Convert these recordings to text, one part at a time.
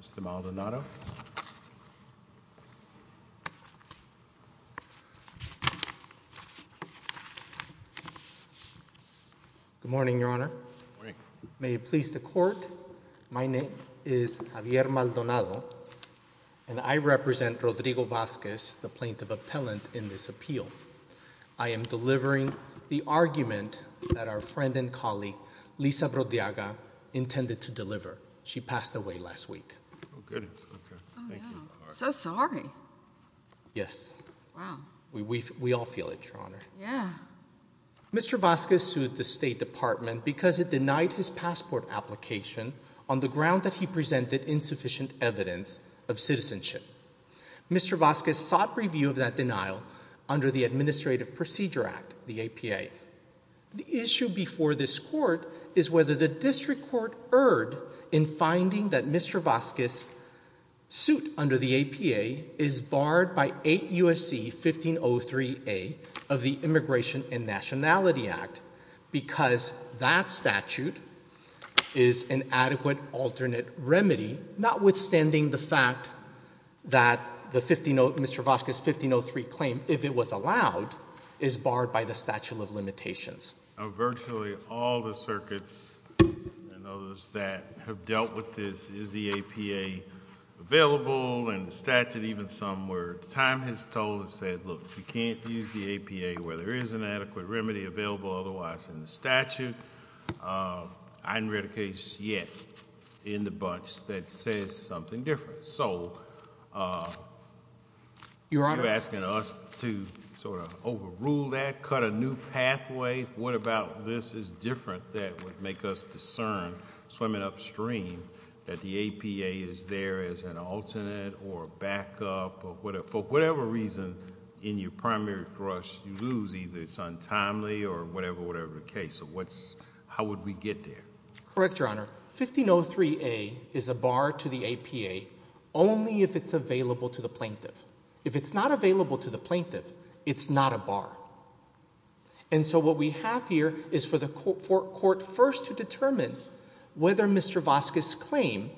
Mr. Maldonado Good morning, Your Honor. May it please the Court, my name is Javier Maldonado, and I represent Rodrigo Vazquez, the plaintiff appellant in this appeal. I am delivering the argument that our friend and colleague, Lisa Brodiaga, intended to deliver. However, she passed away last week. So sorry. Yes, we all feel it, Your Honor. Mr. Vazquez sued the State Department because it denied his passport application on the ground that he presented insufficient evidence of citizenship. Mr. Vazquez sought review of that denial under the Administrative Procedure Act, the APA. The issue before this Court is whether the District Court erred in finding that Mr. Vazquez's suit under the APA is barred by 8 U.S.C. 1503A of the Immigration and Nationality Act because that statute is an adequate alternate remedy, notwithstanding the fact that Mr. Vazquez's limitations. Virtually all the circuits and others that have dealt with this, is the APA available in the statute, even some where time has told and said, look, you can't use the APA where there is an adequate remedy available otherwise in the statute. I haven't read a case yet in the bunch that says something different. So, you're asking us to sort of overrule that, cut a new pathway? What about this is different that would make us discern, swimming upstream, that the APA is there as an alternate or backup or whatever, for whatever reason, in your primary brush you lose, either it's untimely or whatever, whatever the case, so what's, how would we get there? Correct, Your Honor. 1503A is a bar to the APA only if it's available to the plaintiff. If it's not available to the plaintiff, it's not a bar. And so what we have here is for the court first to determine whether Mr. Vazquez's claim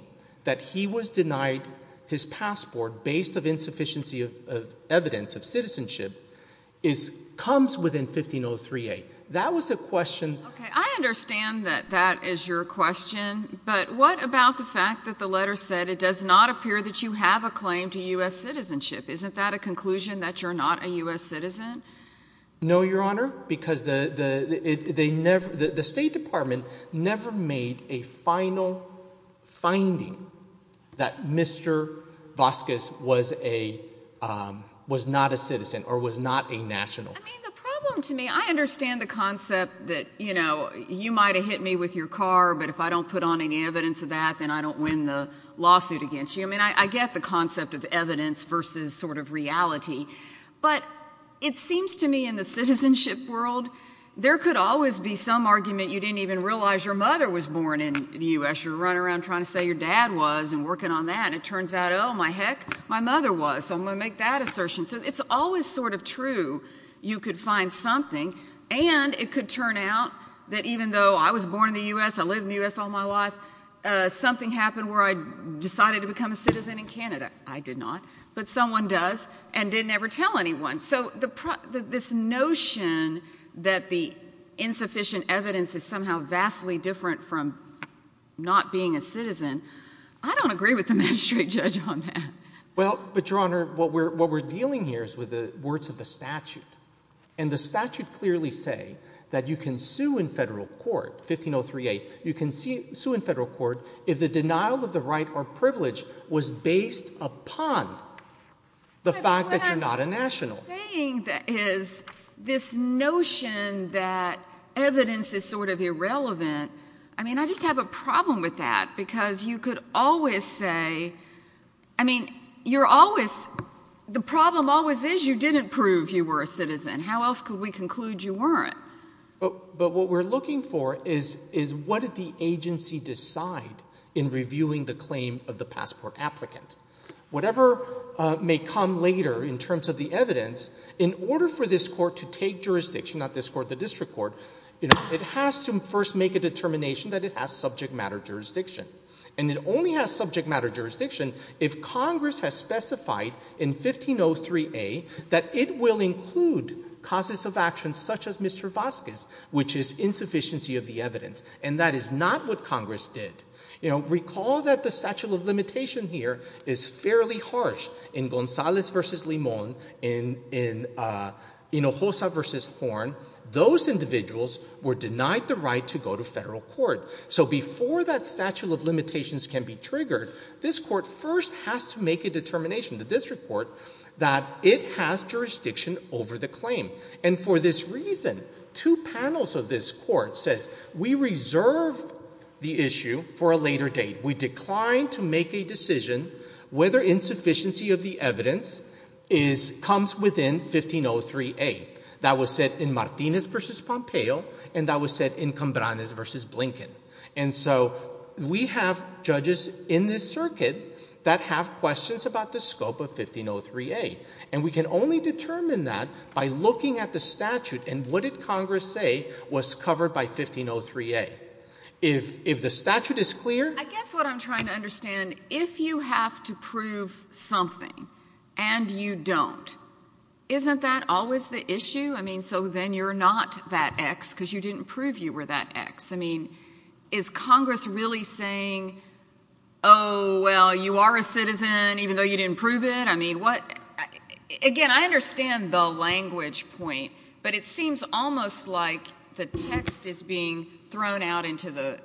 that he was denied his passport based on insufficiency of evidence of citizenship comes within 1503A. That was a question. Okay. I understand that that is your question, but what about the fact that the letter said it does not appear that you have a claim to U.S. citizenship? Isn't that a conclusion that you're not a U.S. citizen? No, Your Honor, because the State Department never made a final finding that Mr. Vazquez was not a citizen or was not a national. I mean, the problem to me, I understand the concept that, you know, you might have hit me with your car, but if I don't put on any evidence of that, then I don't win the lawsuit against you. I mean, I get the concept of evidence versus sort of reality, but it seems to me in the citizenship world, there could always be some argument you didn't even realize your mother was born in the U.S. You're running around trying to say your dad was and working on that, and it turns out, oh, my heck, my mother was, so I'm going to make that assertion. So it's always sort of true you could find something, and it could turn out that even though I was born in the U.S., I lived in the U.S. all my life, something happened where I decided to become a citizen in Canada. I did not, but someone does and didn't ever tell anyone. So this notion that the insufficient evidence is somehow vastly different from not being a citizen, I don't agree with the magistrate judge on that. Well, but, Your Honor, what we're dealing here is with the words of the statute, and the statute clearly say that you can sue in federal court, 15038, you can sue in federal court if the denial of the right or privilege was based upon the fact that you're not a national. But what I'm saying is this notion that evidence is sort of irrelevant, I mean, I just have a problem with that, because you could always say, I mean, you're always, the problem always is you didn't prove you were a citizen. How else could we conclude you weren't? But what we're looking for is what did the agency decide in reviewing the claim of the passport applicant? Whatever may come later in terms of the evidence, in order for this court to take jurisdiction, not this court, the district court, it has to first make a determination that it has subject matter jurisdiction. And it only has subject matter jurisdiction if Congress has specified in 1503A that it will include causes of action such as Mr. Vazquez, which is insufficiency of the evidence. And that is not what Congress did. Recall that the statute of limitation here is fairly harsh in Gonzalez v. Limon, in Hossa v. Horn, those individuals were denied the right to go to federal court. So before that statute of limitations can be triggered, this court first has to make a determination, the district court, that it has jurisdiction over the claim. And for this reason, two panels of this court says, we reserve the issue for a later date. We decline to make a decision whether insufficiency of the evidence comes within 1503A. That was said in Martinez v. Pompeo, and that was said in Cambranes v. Blinken. And so we have judges in this circuit that have questions about the scope of 1503A. And we can only determine that by looking at the statute and what did Congress say was covered by 1503A. If the statute is clear... I guess what I'm trying to understand, if you have to prove something and you don't, isn't that always the issue? I mean, so then you're not that X because you didn't prove you were that X. I mean, is Congress really saying, oh, well, you are a citizen even though you didn't prove it? I mean, what? Again, I understand the language point, but it seems almost like the text is being thrown out into the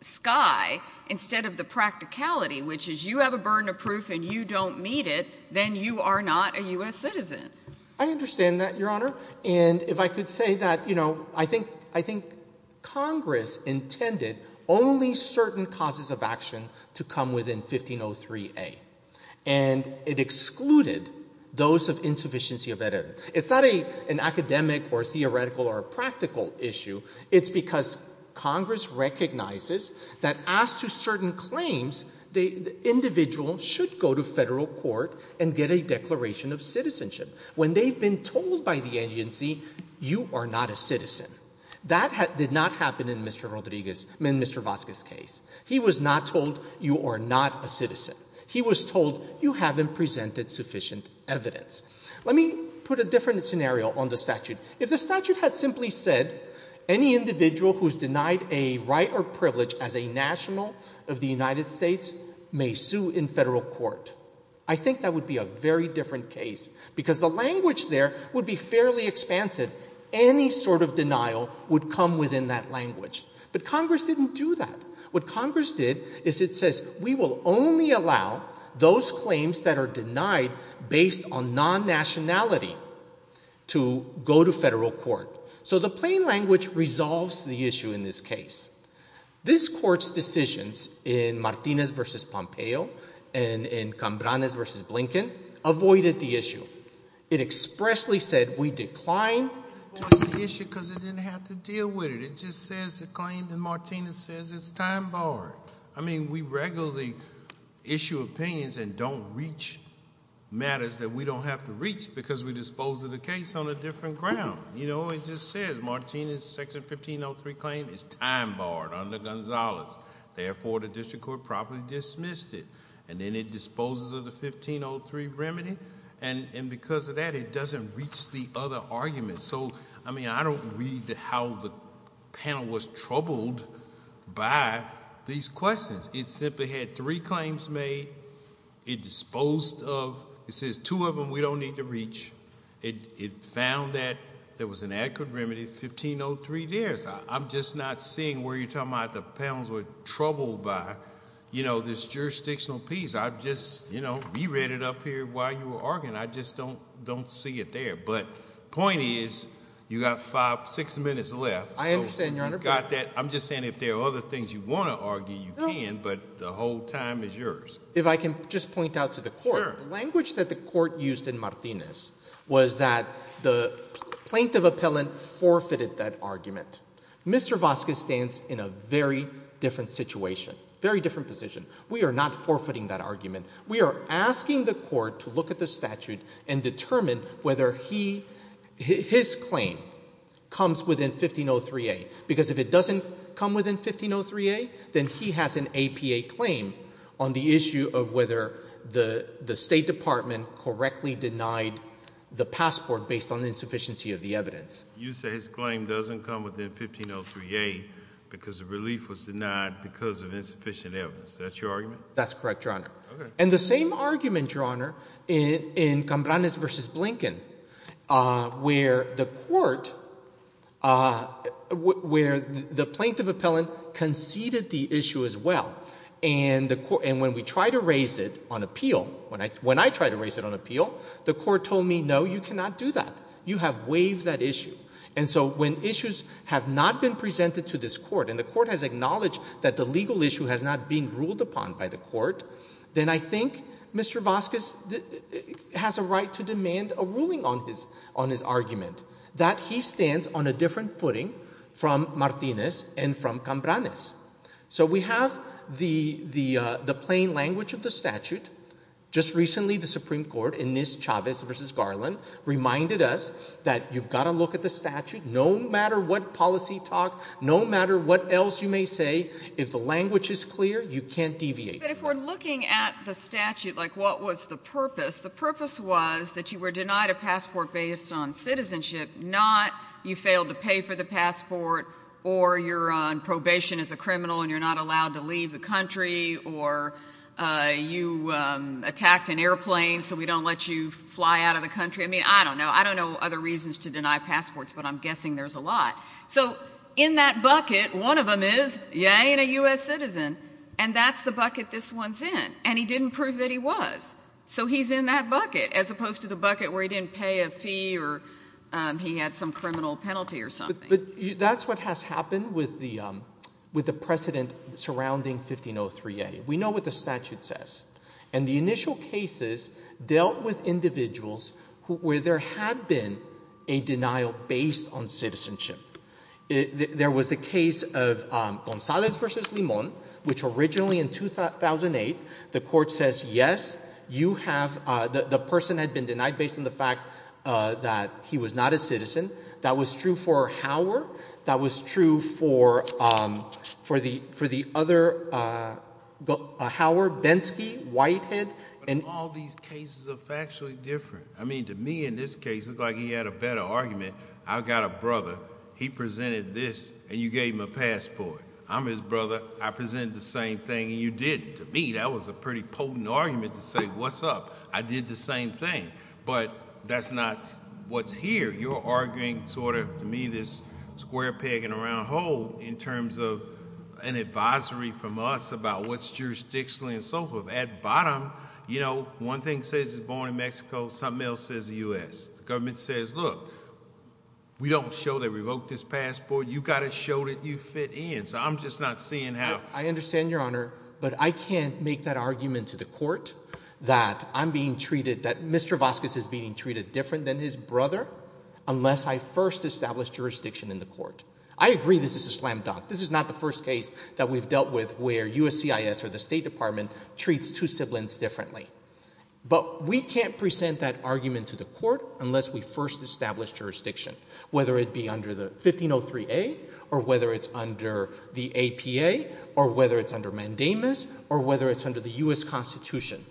sky instead of the practicality, which is you have a burden of proof and you don't meet it, then you are not a U.S. citizen. I understand that, Your Honor, and if I could say that, you know, I think Congress intended only certain causes of action to come within 1503A. And it excluded those of insufficiency of evidence. It's not an academic or theoretical or practical issue. It's because Congress recognizes that as to certain claims, the individual should go to federal court and get a declaration of citizenship when they've been told by the agency, you are not a citizen. That did not happen in Mr. Vasquez's case. He was not told, you are not a citizen. He was told, you haven't presented sufficient evidence. Let me put a different scenario on the statute. If the statute had simply said any individual who is denied a right or privilege as a national of the United States may sue in federal court, I think that would be a very different case because the language there would be fairly expansive. Any sort of denial would come within that language. But Congress didn't do that. What Congress did is it says we will only allow those claims that are denied based on federal court. So the plain language resolves the issue in this case. This court's decisions in Martinez v. Pompeo and in Cambranes v. Blinken avoided the issue. It expressly said we decline towards the issue because it didn't have to deal with it. It just says the claim that Martinez says it's time barred. I mean, we regularly issue opinions and don't reach matters that we don't have to reach because we dispose of the case on a different ground. You know, it just says Martinez section 1503 claim is time barred under Gonzalez. Therefore the district court probably dismissed it. And then it disposes of the 1503 remedy. And because of that, it doesn't reach the other arguments. So I mean, I don't read how the panel was troubled by these questions. It simply had three claims made. It disposed of. It says two of them we don't need to reach. It found that there was an adequate remedy, 1503 there. So I'm just not seeing where you're talking about the panels were troubled by, you know, this jurisdictional piece. I've just, you know, re-read it up here while you were arguing. I just don't see it there. But point is, you have five, six minutes left. I understand, Your Honor. You've got that. I'm just saying if there are other things you want to argue, you can, but the whole time is yours. If I can just point out to the court. The language that the court used in Martinez was that the plaintiff appellant forfeited that argument. Mr. Vasquez stands in a very different situation, very different position. We are not forfeiting that argument. We are asking the court to look at the statute and determine whether his claim comes within 1503A. Because if it doesn't come within 1503A, then he has an APA claim on the issue of whether the State Department correctly denied the passport based on insufficiency of the evidence. You say his claim doesn't come within 1503A because the relief was denied because of insufficient evidence. That's your argument? That's correct, Your Honor. And the same argument, Your Honor, in Cambranes v. Blinken, where the court, where the plaintiff appellant conceded the issue as well, and when we try to raise it on appeal, when I try to raise it on appeal, the court told me, no, you cannot do that. You have waived that issue. And so when issues have not been presented to this court, and the court has acknowledged that the legal issue has not been ruled upon by the court, then I think Mr. Vazquez has a right to demand a ruling on his argument. That he stands on a different footing from Martinez and from Cambranes. So we have the plain language of the statute. Just recently, the Supreme Court, in this Chavez v. Garland, reminded us that you've got to look at the statute no matter what policy talk, no matter what else you may say, if the language is clear, you can't deviate. But if we're looking at the statute, like what was the purpose? The purpose was that you were denied a passport based on citizenship, not you failed to pay for the passport, or you're on probation as a criminal and you're not allowed to leave the country, or you attacked an airplane so we don't let you fly out of the country. I mean, I don't know. I don't know other reasons to deny passports, but I'm guessing there's a lot. So in that bucket, one of them is, you ain't a U.S. citizen, and that's the bucket this one's in, and he didn't prove that he was. So he's in that bucket, as opposed to the bucket where he didn't pay a fee or he had some criminal penalty or something. But that's what has happened with the precedent surrounding 1503A. We know what the statute says. And the initial cases dealt with individuals where there had been a denial based on citizenship. There was the case of Gonzalez v. Limon, which originally in 2008, the court says, yes, you have, the person had been denied based on the fact that he was not a citizen. That was true for Hauer. That was true for the other, Hauer, Bensky, Whitehead. And all these cases are factually different. I mean, to me in this case, it looked like he had a better argument. I've got a brother. He presented this, and you gave him a passport. I'm his brother. I presented the same thing, and you didn't. To me, that was a pretty potent argument to say, what's up? I did the same thing. But that's not what's here. You're arguing sort of, to me, this square peg in a round hole in terms of an advisory from us about what's jurisdictional and so forth. At bottom, you know, one thing says he's born in Mexico. Something else says the U.S. The government says, look, we don't show they revoked his passport. You've got to show that you fit in. So I'm just not seeing how. I understand, Your Honor, but I can't make that argument to the court that I'm being treated, that Mr. Vazquez is being treated different than his brother unless I first establish jurisdiction in the court. I agree this is a slam dunk. This is not the first case that we've dealt with where USCIS or the State Department treats two siblings differently. But we can't present that argument to the court unless we first establish jurisdiction, whether it be under the 1503A, or whether it's under the APA, or whether it's under mandamus, or whether it's under the U.S. Constitution.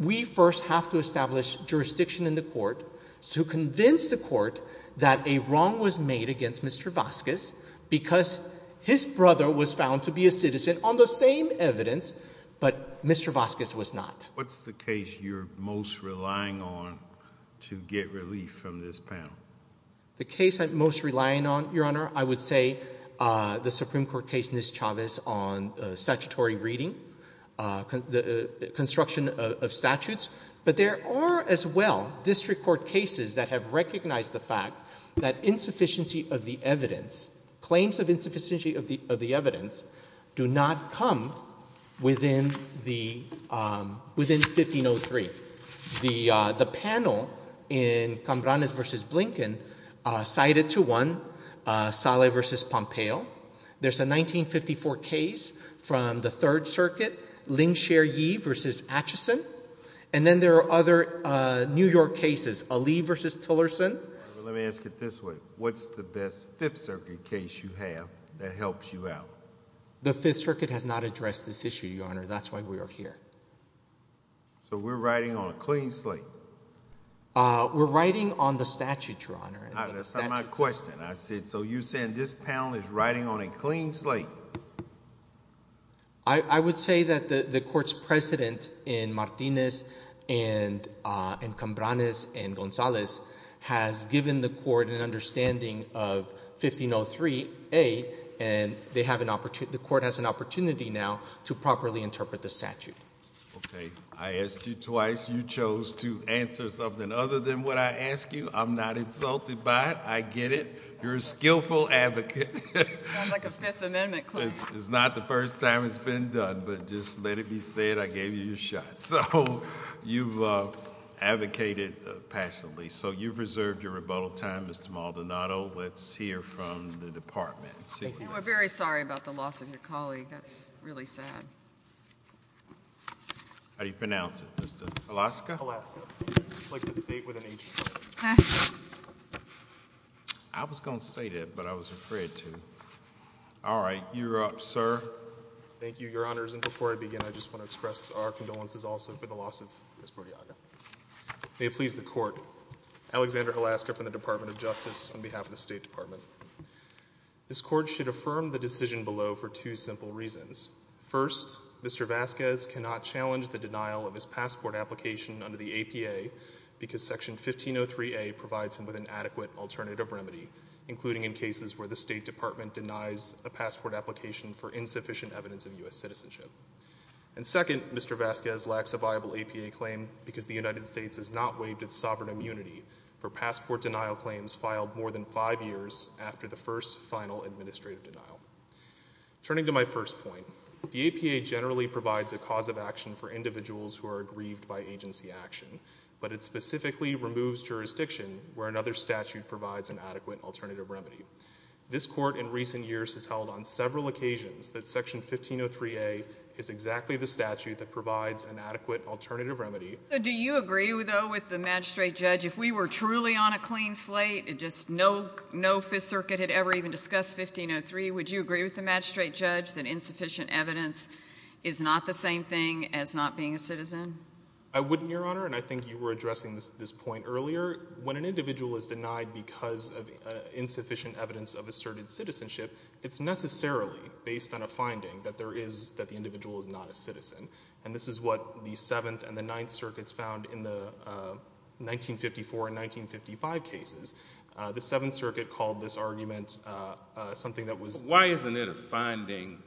We first have to establish jurisdiction in the court to convince the court that a wrong was made against Mr. Vazquez because his brother was found to be a citizen on the same evidence, but Mr. Vazquez was not. What's the case you're most relying on to get relief from this panel? The case I'm most relying on, Your Honor, I would say the Supreme Court case, Ms. Chavez, on statutory reading, construction of statutes. But there are, as well, district court cases that have recognized the fact that insufficiency of the evidence, claims of insufficiency of the evidence, do not come within 1503. The panel in Cambranes v. Blinken cited to one Saleh v. Pompeo. There's a 1954 case from the Third Circuit, Lingshire Yee v. Atchison. And then there are other New York cases, Ali v. Tillerson. Let me ask it this way. What's the best Fifth Circuit case you have that helps you out? The Fifth Circuit has not addressed this issue, Your Honor. That's why we are here. So we're riding on a clean slate. We're riding on the statute, Your Honor. That's not my question. I said, so you're saying this panel is riding on a clean slate? I would say that the court's president in Martinez and Cambranes and Gonzalez has given the court an understanding of 1503a. And the court has an opportunity now to properly interpret the statute. OK. I asked you twice. You chose to answer something other than what I asked you. I'm not insulted by it. I get it. You're a skillful advocate. Sounds like a Fifth Amendment claim. It's not the first time it's been done. But just let it be said, I gave you your shot. So you've advocated passionately. So you've reserved your rebuttal time, Mr. Maldonado. Let's hear from the department. And we're very sorry about the loss of your colleague. That's really sad. How do you pronounce it, Mr. Alaska? Alaska. It's like the state with an H. I was going to say that, but I was afraid to. All right. You're up, sir. Thank you, Your Honors. And before I begin, I just want to express our condolences also for the loss of Ms. Bordiaga. May it please the court, Alexander Alaska from the Department of Justice on behalf of the State Department. This court should affirm the decision below for two simple reasons. First, Mr. Vasquez cannot challenge the denial of his passport application under the APA because Section 1503A provides him with an adequate alternative remedy, including in cases where the State Department denies a passport application for insufficient evidence of US citizenship. And second, Mr. Vasquez lacks a viable APA claim because the United States has not waived its sovereign immunity for passport denial claims filed more than five years after the first final administrative denial. Turning to my first point, the APA generally provides a cause of action for individuals who are aggrieved by agency action, but it specifically removes jurisdiction where another statute provides an adequate alternative remedy. This court in recent years has held on several occasions that Section 1503A is exactly the statute that provides an adequate alternative remedy. So do you agree, though, with the magistrate judge, if we were truly on a clean slate, and just no Fifth Circuit had ever even discussed 1503, would you agree with the magistrate judge that insufficient evidence is not the same thing as not being a citizen? I wouldn't, Your Honor, and I think you were addressing this point earlier. When an individual is denied because of insufficient evidence of asserted citizenship, it's necessarily based on a finding that the individual is not a citizen, and this is what the Seventh and the Ninth Circuits found in the 1954 and 1955 cases. The Seventh Circuit called this argument something that was... Why isn't it a finding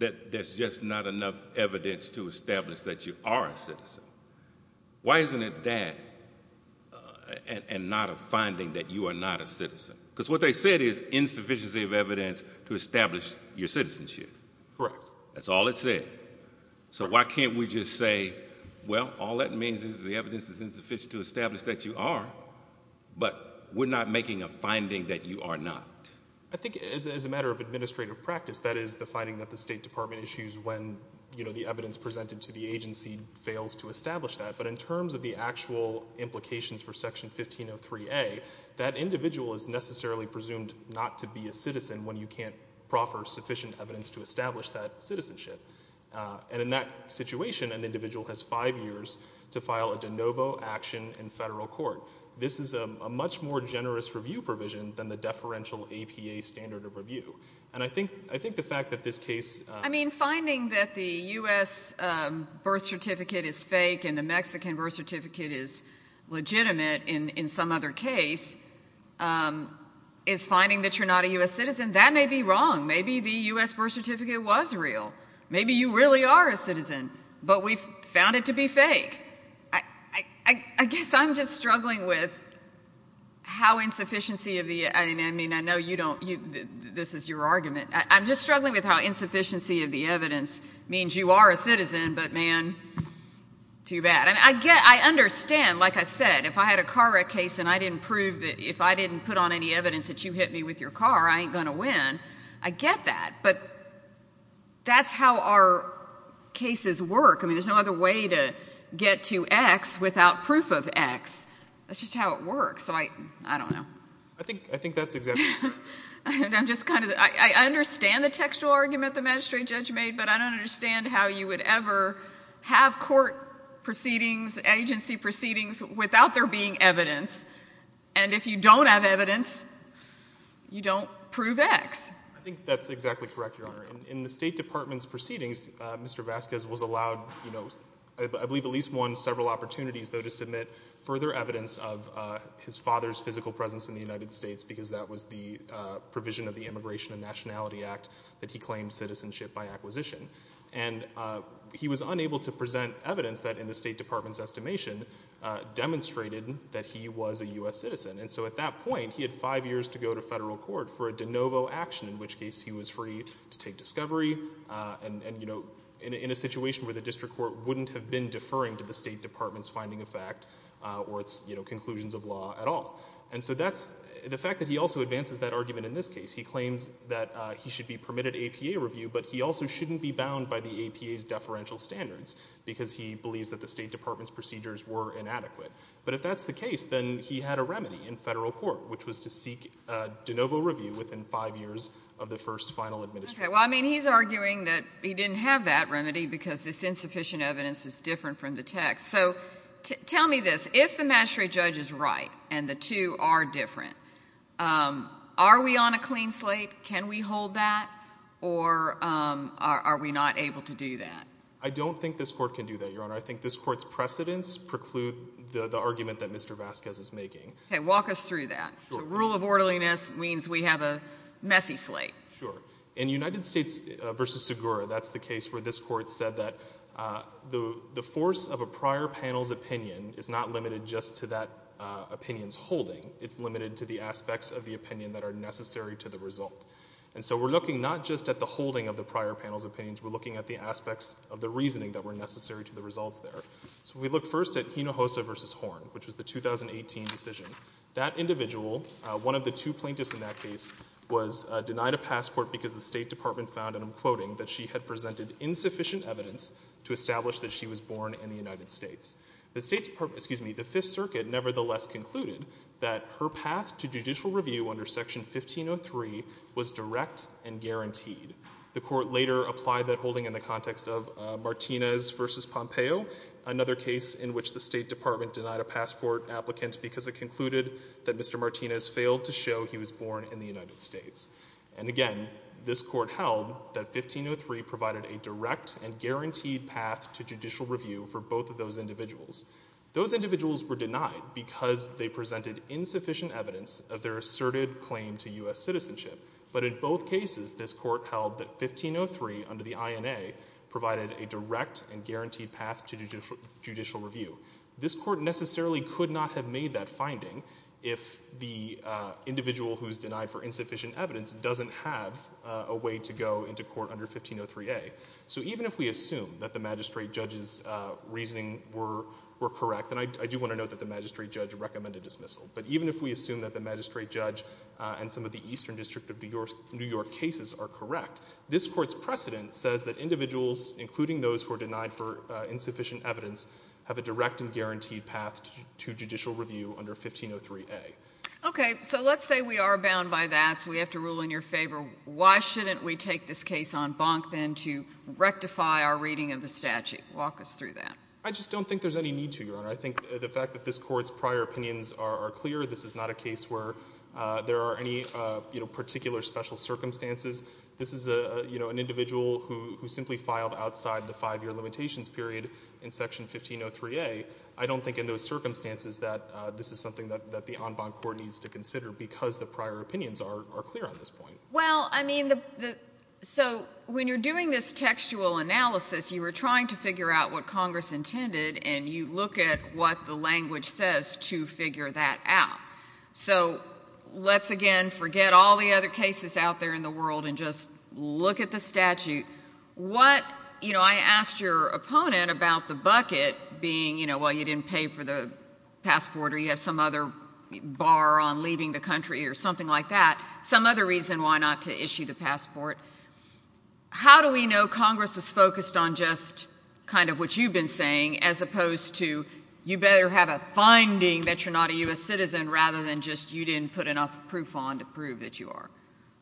that there's just not enough evidence to establish that you are a citizen? Why isn't it that and not a finding that you are not a citizen? Because what they said is insufficiency of evidence to establish your citizenship. Correct. That's all it said. So why can't we just say, well, all that means is the evidence is insufficient to establish that you are, but we're not making a finding that you are not. I think as a matter of administrative practice, that is the finding that the State Department issues when, you know, the evidence presented to the agency fails to establish that. But in terms of the actual implications for Section 1503A, that individual is necessarily presumed not to be a citizen when you can't proffer sufficient evidence to establish that citizenship. And in that situation, an individual has five years to file a de novo action in federal court. This is a much more generous review provision than the deferential APA standard of review. And I think the fact that this case... I mean, finding that the US birth certificate is fake and the Mexican birth certificate is legitimate in some other case is finding that you're not a US citizen. That may be wrong. Maybe the US birth certificate was real. Maybe you really are a citizen, but we found it to be fake. I guess I'm just struggling with how insufficiency of the... I mean, I know you don't... This is your argument. I'm just struggling with how insufficiency of the evidence means you are a citizen, but, man, too bad. I understand, like I said, if I had a car wreck case and I didn't prove that... If I didn't put on any evidence that you hit me with your car, I ain't going to win. I get that, but that's how our cases work. I mean, there's no other way to get to X without proof of X. That's just how it works, so I don't know. I think that's exactly correct. I'm just kind of... I understand the textual argument the magistrate judge made, but I don't understand how you would ever have court proceedings, agency proceedings, without there being evidence. And if you don't have evidence, you don't prove X. In the State Department's proceedings, Mr Vasquez was allowed, I believe at least one, several opportunities, though, to submit further evidence of his father's physical presence in the United States because that was the provision of the Immigration and Nationality Act that he claimed citizenship by acquisition. And he was unable to present evidence that, in the State Department's estimation, demonstrated that he was a US citizen. And so, at that point, he had five years to go to federal court for a de novo action, in which case he was free to take discovery and, you know, in a situation where the district court wouldn't have been deferring to the State Department's finding of fact or its conclusions of law at all. And so that's... The fact that he also advances that argument in this case, he claims that he should be permitted APA review, but he also shouldn't be bound by the APA's deferential standards because he believes that the State Department's procedures were inadequate. But if that's the case, then he had a remedy in federal court, which was to seek de novo review within five years of the first final administration. OK, well, I mean, he's arguing that he didn't have that remedy because this insufficient evidence is different from the text. So, tell me this. If the magistrate judge is right and the two are different, are we on a clean slate? Can we hold that? Or are we not able to do that? I don't think this court can do that, Your Honour. I think this court's precedents preclude the argument that Mr Vasquez is making. OK, walk us through that. The rule of orderliness means we have a messy slate. Sure. In United States v. Segura, that's the case where this court said that the force of a prior panel's opinion is not limited just to that opinion's holding. It's limited to the aspects of the opinion that are necessary to the result. And so, we're looking not just at the holding of the prior panel's opinions, we're looking at the aspects of the reasoning that were necessary to the results there. So, we look first at Hinojosa v. Horn, which was the 2018 decision. That individual, one of the two plaintiffs in that case, was denied a passport because the State Department found, and I'm quoting, that she had presented insufficient evidence to establish that she was born in the United States. The State Department...excuse me, the Fifth Circuit nevertheless concluded that her path to judicial review under Section 1503 was direct and guaranteed. The court later applied that holding in the context of Martinez v. Pompeo, another case in which the State Department denied a passport applicant because it concluded that Mr Martinez failed to show he was born in the United States. And again, this court held that 1503 provided a direct and guaranteed path to judicial review for both of those individuals. Those individuals were denied because they presented insufficient evidence of their asserted claim to US citizenship. But in both cases, this court held that 1503, under the INA, provided a direct and guaranteed path to judicial review. This court necessarily could not have made that finding if the individual who's denied for insufficient evidence doesn't have a way to go into court under 1503A. So even if we assume that the magistrate judge's reasoning were correct, and I do want to note that the magistrate judge recommended dismissal, but even if we assume that the magistrate judge and some of the Eastern District of New York cases are correct, this court's precedent says that individuals, including those who are denied for insufficient evidence, have a direct and guaranteed path to judicial review under 1503A. Okay, so let's say we are bound by that, so we have to rule in your favor. Why shouldn't we take this case on bonk, then, to rectify our reading of the statute? Walk us through that. I just don't think there's any need to, Your Honor. I think the fact that this court's prior opinions are clear, this is not a case where there are any particular special circumstances. This is an individual who simply filed outside the five-year limitations period in Section 1503A. I don't think in those circumstances that this is something that the en banc court needs to consider because the prior opinions are clear at this point. Well, I mean, so when you're doing this textual analysis, you were trying to figure out what Congress intended, and you look at what the language says to figure that out. So let's, again, forget all the other cases out there in the world and just look at the statute. What, you know, I asked your opponent about the bucket being, you know, well, you didn't pay for the passport or you have some other bar on leaving the country or something like that, some other reason why not to issue the passport. How do we know Congress was focused on just kind of what you've been saying as opposed to you better have a finding that you're not a U.S. citizen rather than just you didn't put enough proof on to prove that you are?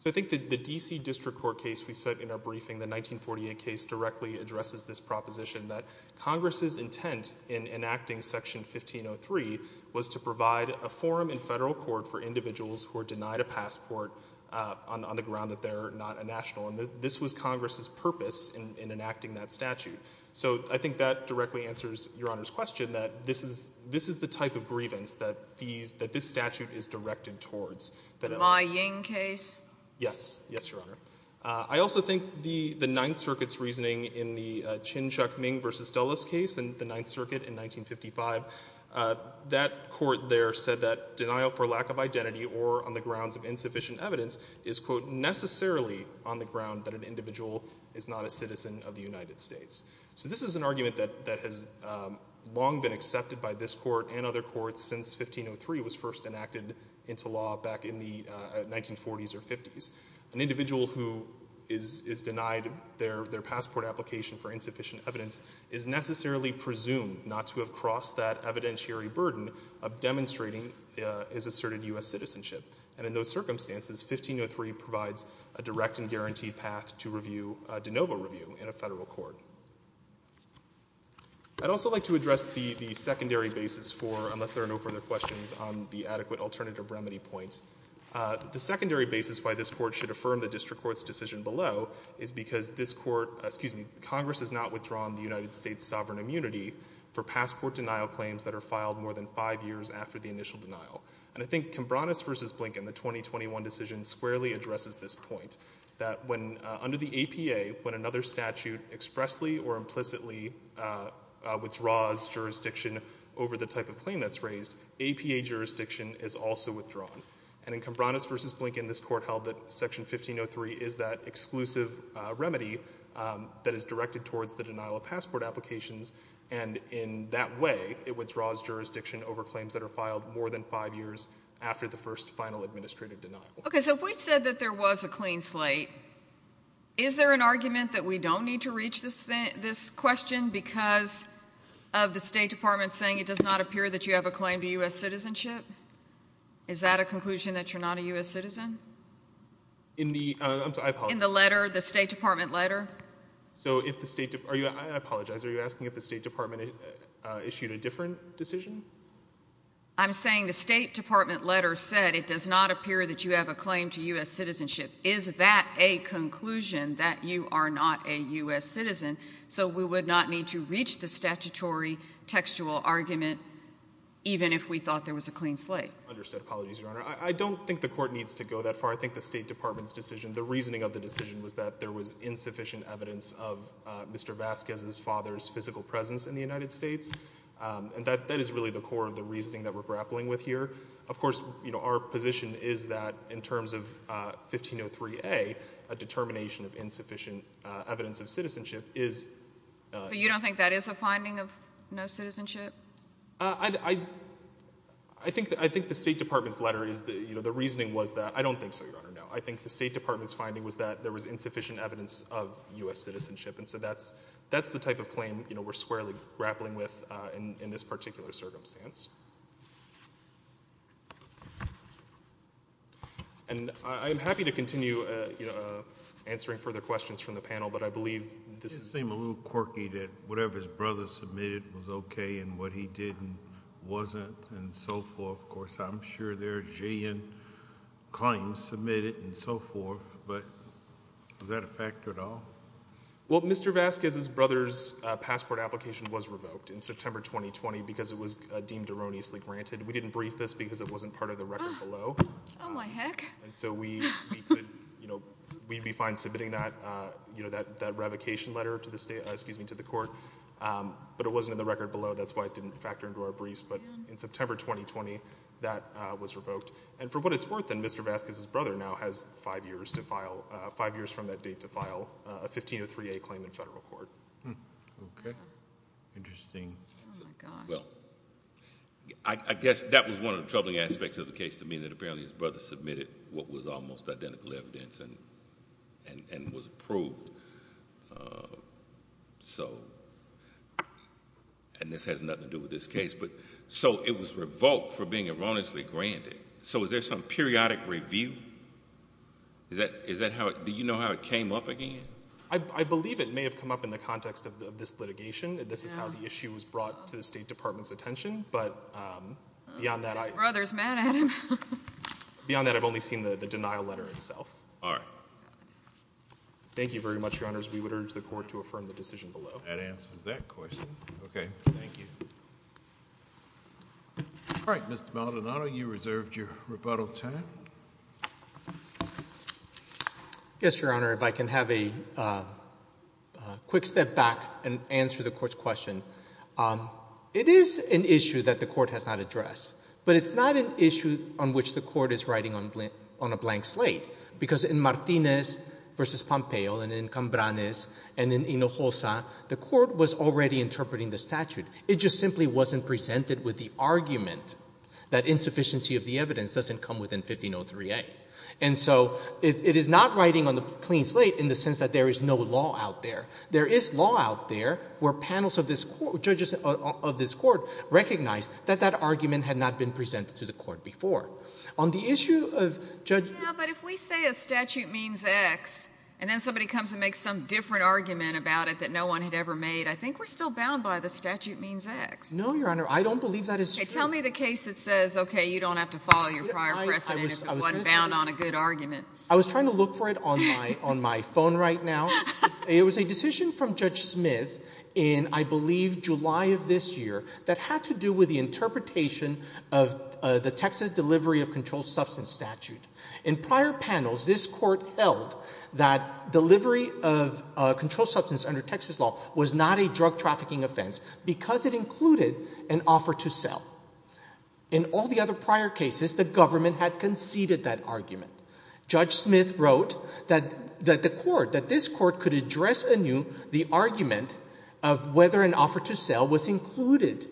So I think that the D.C. District Court case we said in our briefing, the 1948 case directly addresses this proposition that Congress's intent in enacting Section 1503 was to provide a forum in federal court for individuals who are denied a passport on the ground that they're not a national. And this was Congress's purpose in enacting that statute. So I think that directly answers Your Honor's question that this is the type of grievance that this statute is directed towards. The Ma Ying case? Yes. Yes, Your Honor. I also think the Ninth Circuit's reasoning in the Chinchuk Ming versus Dulles case in the Ninth Circuit in 1955, that court there said that denial for lack of identity or on the grounds of insufficient evidence is, quote, necessarily on the ground that an individual is not a citizen of the United States. So this is an argument that has long been accepted by this court and other courts since 1503 was first enacted into law back in the 1940s or 50s. An individual who is denied their passport application for insufficient evidence is necessarily presumed not to have crossed that evidentiary burden of demonstrating his asserted U.S. citizenship. And in those circumstances, 1503 provides a direct and guaranteed path to review de novo review in a federal court. I'd also like to address the secondary basis for, unless there are no further questions, on the adequate alternative remedy point. The secondary basis why this court should affirm the district court's decision below is because this court, excuse me, Congress has not withdrawn the United States sovereign immunity for passport denial claims that are filed more than five years after the initial denial. And I think Kambranis versus Blinken, the 2021 decision, squarely addresses this point. That when, under the APA, when another statute expressly or implicitly withdraws jurisdiction over the type of claim that's raised, APA jurisdiction is also withdrawn. And in Kambranis versus Blinken, this court held that section 1503 is that exclusive remedy that is directed towards the denial of passport applications. And in that way, it withdraws jurisdiction over claims that are filed more than five years after the first final administrative denial. Okay, so if we said that there was a clean slate, is there an argument that we don't need to reach this question because of the State Department saying it does not appear that you have a claim to U.S. citizenship? Is that a conclusion that you're not a U.S. citizen? In the letter, the State Department letter? So if the State, I apologize, are you asking if the State Department issued a different decision? I'm saying the State Department letter said it does not appear that you have a claim to U.S. citizenship. Is that a conclusion that you are not a U.S. citizen? So we would not need to reach the statutory textual argument, even if we thought there was a clean slate? Understood. Apologies, Your Honor. I don't think the court needs to go that far. I think the State Department's decision, the reasoning of the decision was that there was insufficient evidence of Mr. Vasquez's father's physical presence in the United States, and that is really the core of the reasoning that we're grappling with here. Of course, you know, our position is that in terms of 1503A, a determination of insufficient evidence of citizenship is. So you don't think that is a finding of no citizenship? I think the State Department's letter is, you know, the reasoning was that, I don't think so, Your Honor, no. I think the State Department's finding was that there was insufficient evidence of U.S. citizenship, and so that's the type of claim, you know, we're squarely grappling with in this particular circumstance. And I'm happy to continue, you know, answering further questions from the panel, but I believe this is. It did seem a little quirky that whatever his brother submitted was okay, and what he did wasn't, and so forth. Of course, I'm sure there's giant claims submitted and so forth, but is that a factor at all? Well, Mr. Vasquez's brother's passport application was revoked in September 2020 because it was deemed erroneously granted. We didn't brief this because it wasn't part of the record below. Oh, my heck. And so we could, you know, we'd be fine submitting that, you know, that revocation letter to the state, excuse me, to the court, but it wasn't in the record below. That's why it didn't factor into our briefs, but in September 2020, that was revoked. And for what it's worth then, Mr. Vasquez's brother now has five years to file, a 1503A claim in federal court. Okay. Interesting. Oh, my God. Well, I guess that was one of the troubling aspects of the case to me, that apparently his brother submitted what was almost identical evidence and was approved, so, and this has nothing to do with this case, but so it was revoked for being erroneously granted. So is there some periodic review? Is that how, do you know how it came up again? I believe it may have come up in the context of this litigation. This is how the issue was brought to the State Department's attention, but beyond that I've only seen the denial letter itself. All right. Thank you very much, Your Honors. We would urge the court to affirm the decision below. That answers that question. Okay. Thank you. All right. Mr. Maldonado, you reserved your rebuttal time. Yes, Your Honor. If I can have a quick step back and answer the court's question. It is an issue that the court has not addressed, but it's not an issue on which the court is writing on a blank slate because in Martinez v. Pompeo and in Cambranes and in Hinojosa, the court was already interpreting the statute. It just simply wasn't presented with the argument that insufficiency of the evidence doesn't come within 1503A. And so it is not writing on the clean slate in the sense that there is no law out there. There is law out there where panels of this court, judges of this court, recognize that that argument had not been presented to the court before. On the issue of judge — Yeah, but if we say a statute means X and then somebody comes and makes some different argument about it that no one had ever made, I think we're still bound by the statute means X. No, Your Honor. I don't believe that is true. Tell me the case that says, okay, you don't have to follow your prior precedent if it wasn't bound on a good argument. I was trying to look for it on my phone right now. It was a decision from Judge Smith in, I believe, July of this year that had to do with the interpretation of the Texas Delivery of Controlled Substance statute. In prior panels, this court held that delivery of controlled substance under Texas law was not a drug trafficking offense because it included an offer to sell. In all the other prior cases, the government had conceded that argument. Judge Smith wrote that the court, that this court could address anew the argument of whether an offer to sell was included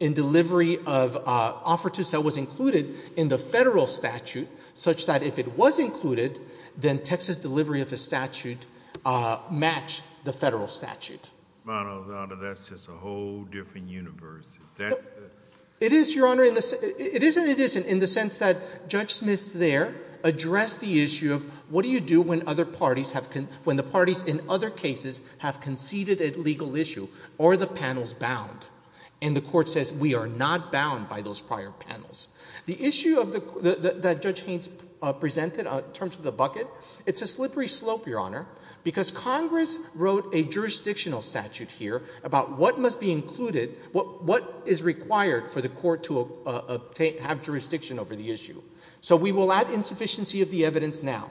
in delivery of — offer to sell was included in the federal statute such that if it was included, then Texas delivery of a statute matched the federal statute. Well, no, Your Honor, that's just a whole different universe. That's the — It is, Your Honor. In the — it is and it isn't in the sense that Judge Smith's there addressed the issue of what do you do when other parties have — when the parties in other cases have conceded a legal issue? Are the panels bound? And the court says, we are not bound by those prior panels. The issue of the — that Judge Haynes presented in terms of the bucket, it's a slippery slope, Your Honor, because Congress wrote a jurisdictional statute here about what must be included, what is required for the court to have jurisdiction over the issue. So we will add insufficiency of the evidence now.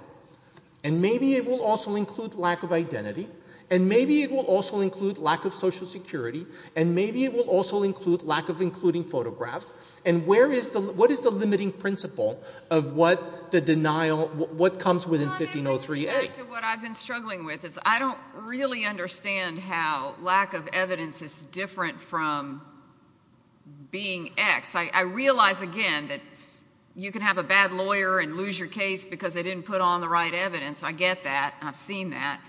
And maybe it will also include lack of identity. And maybe it will also include lack of Social Security. And maybe it will also include lack of including photographs. And where is the — what is the limiting principle of what the denial — what comes within 1503A? To what I've been struggling with is I don't really understand how lack of evidence is different from being X. I realize, again, that you can have a bad lawyer and lose your case because they didn't put on the right evidence. I get that. I've seen that.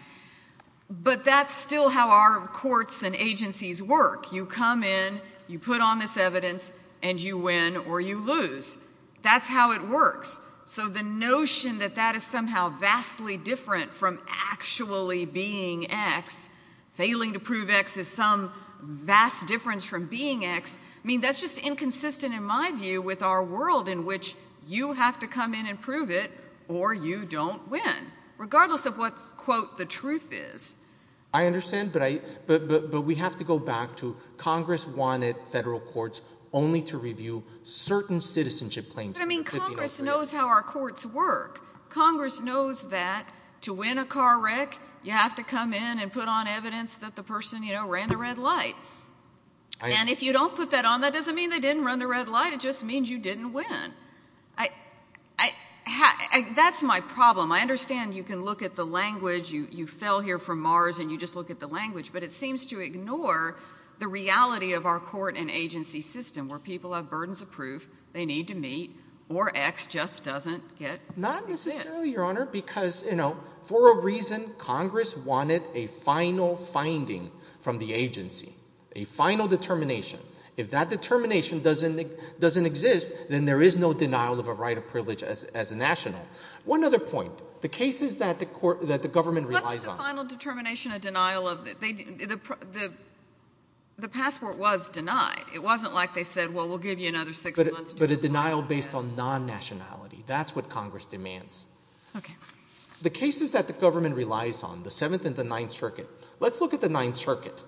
But that's still how our courts and agencies work. You come in, you put on this evidence, and you win or you lose. That's how it works. So the notion that that is somehow vastly different from actually being X, failing to prove X is some vast difference from being X, I mean, that's just inconsistent in my view with our world in which you have to come in and prove it or you don't win, regardless of what, quote, the truth is. I understand, but I — but we have to go back to Congress wanted federal courts only to review certain citizenship claims. But I mean, Congress knows how our courts work. Congress knows that to win a car wreck, you have to come in and put on evidence that the person, you know, ran the red light. And if you don't put that on, that doesn't mean they didn't run the red light. It just means you didn't win. I — that's my problem. I understand you can look at the language. You fell here from Mars and you just look at the language, but it seems to ignore the reality of our court and agency system where people have burdens of proof they need to meet or X just doesn't get — Not necessarily, Your Honor, because, you know, for a reason, Congress wanted a final finding from the agency, a final determination. If that determination doesn't exist, then there is no denial of a right of privilege as a national. One other point. The cases that the court — that the government relies on — What's the final determination, a denial of — they — the passport was denied. It wasn't like they said, well, we'll give you another six months to — But a denial based on non-nationality. That's what Congress demands. OK. The cases that the government relies on, the Seventh and the Ninth Circuit — let's look at the Ninth Circuit.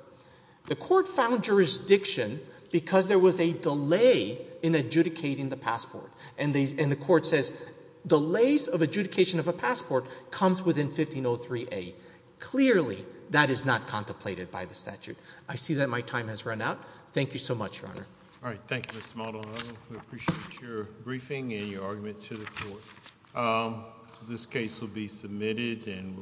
The court found jurisdiction because there was a delay in adjudicating the passport. And the court says delays of adjudication of a passport comes within 1503A. Clearly, that is not contemplated by the statute. I see that my time has run out. Thank you so much, Your Honor. All right. Thank you, Mr. Maldonado. We appreciate your briefing and your argument to the court. This case will be submitted and —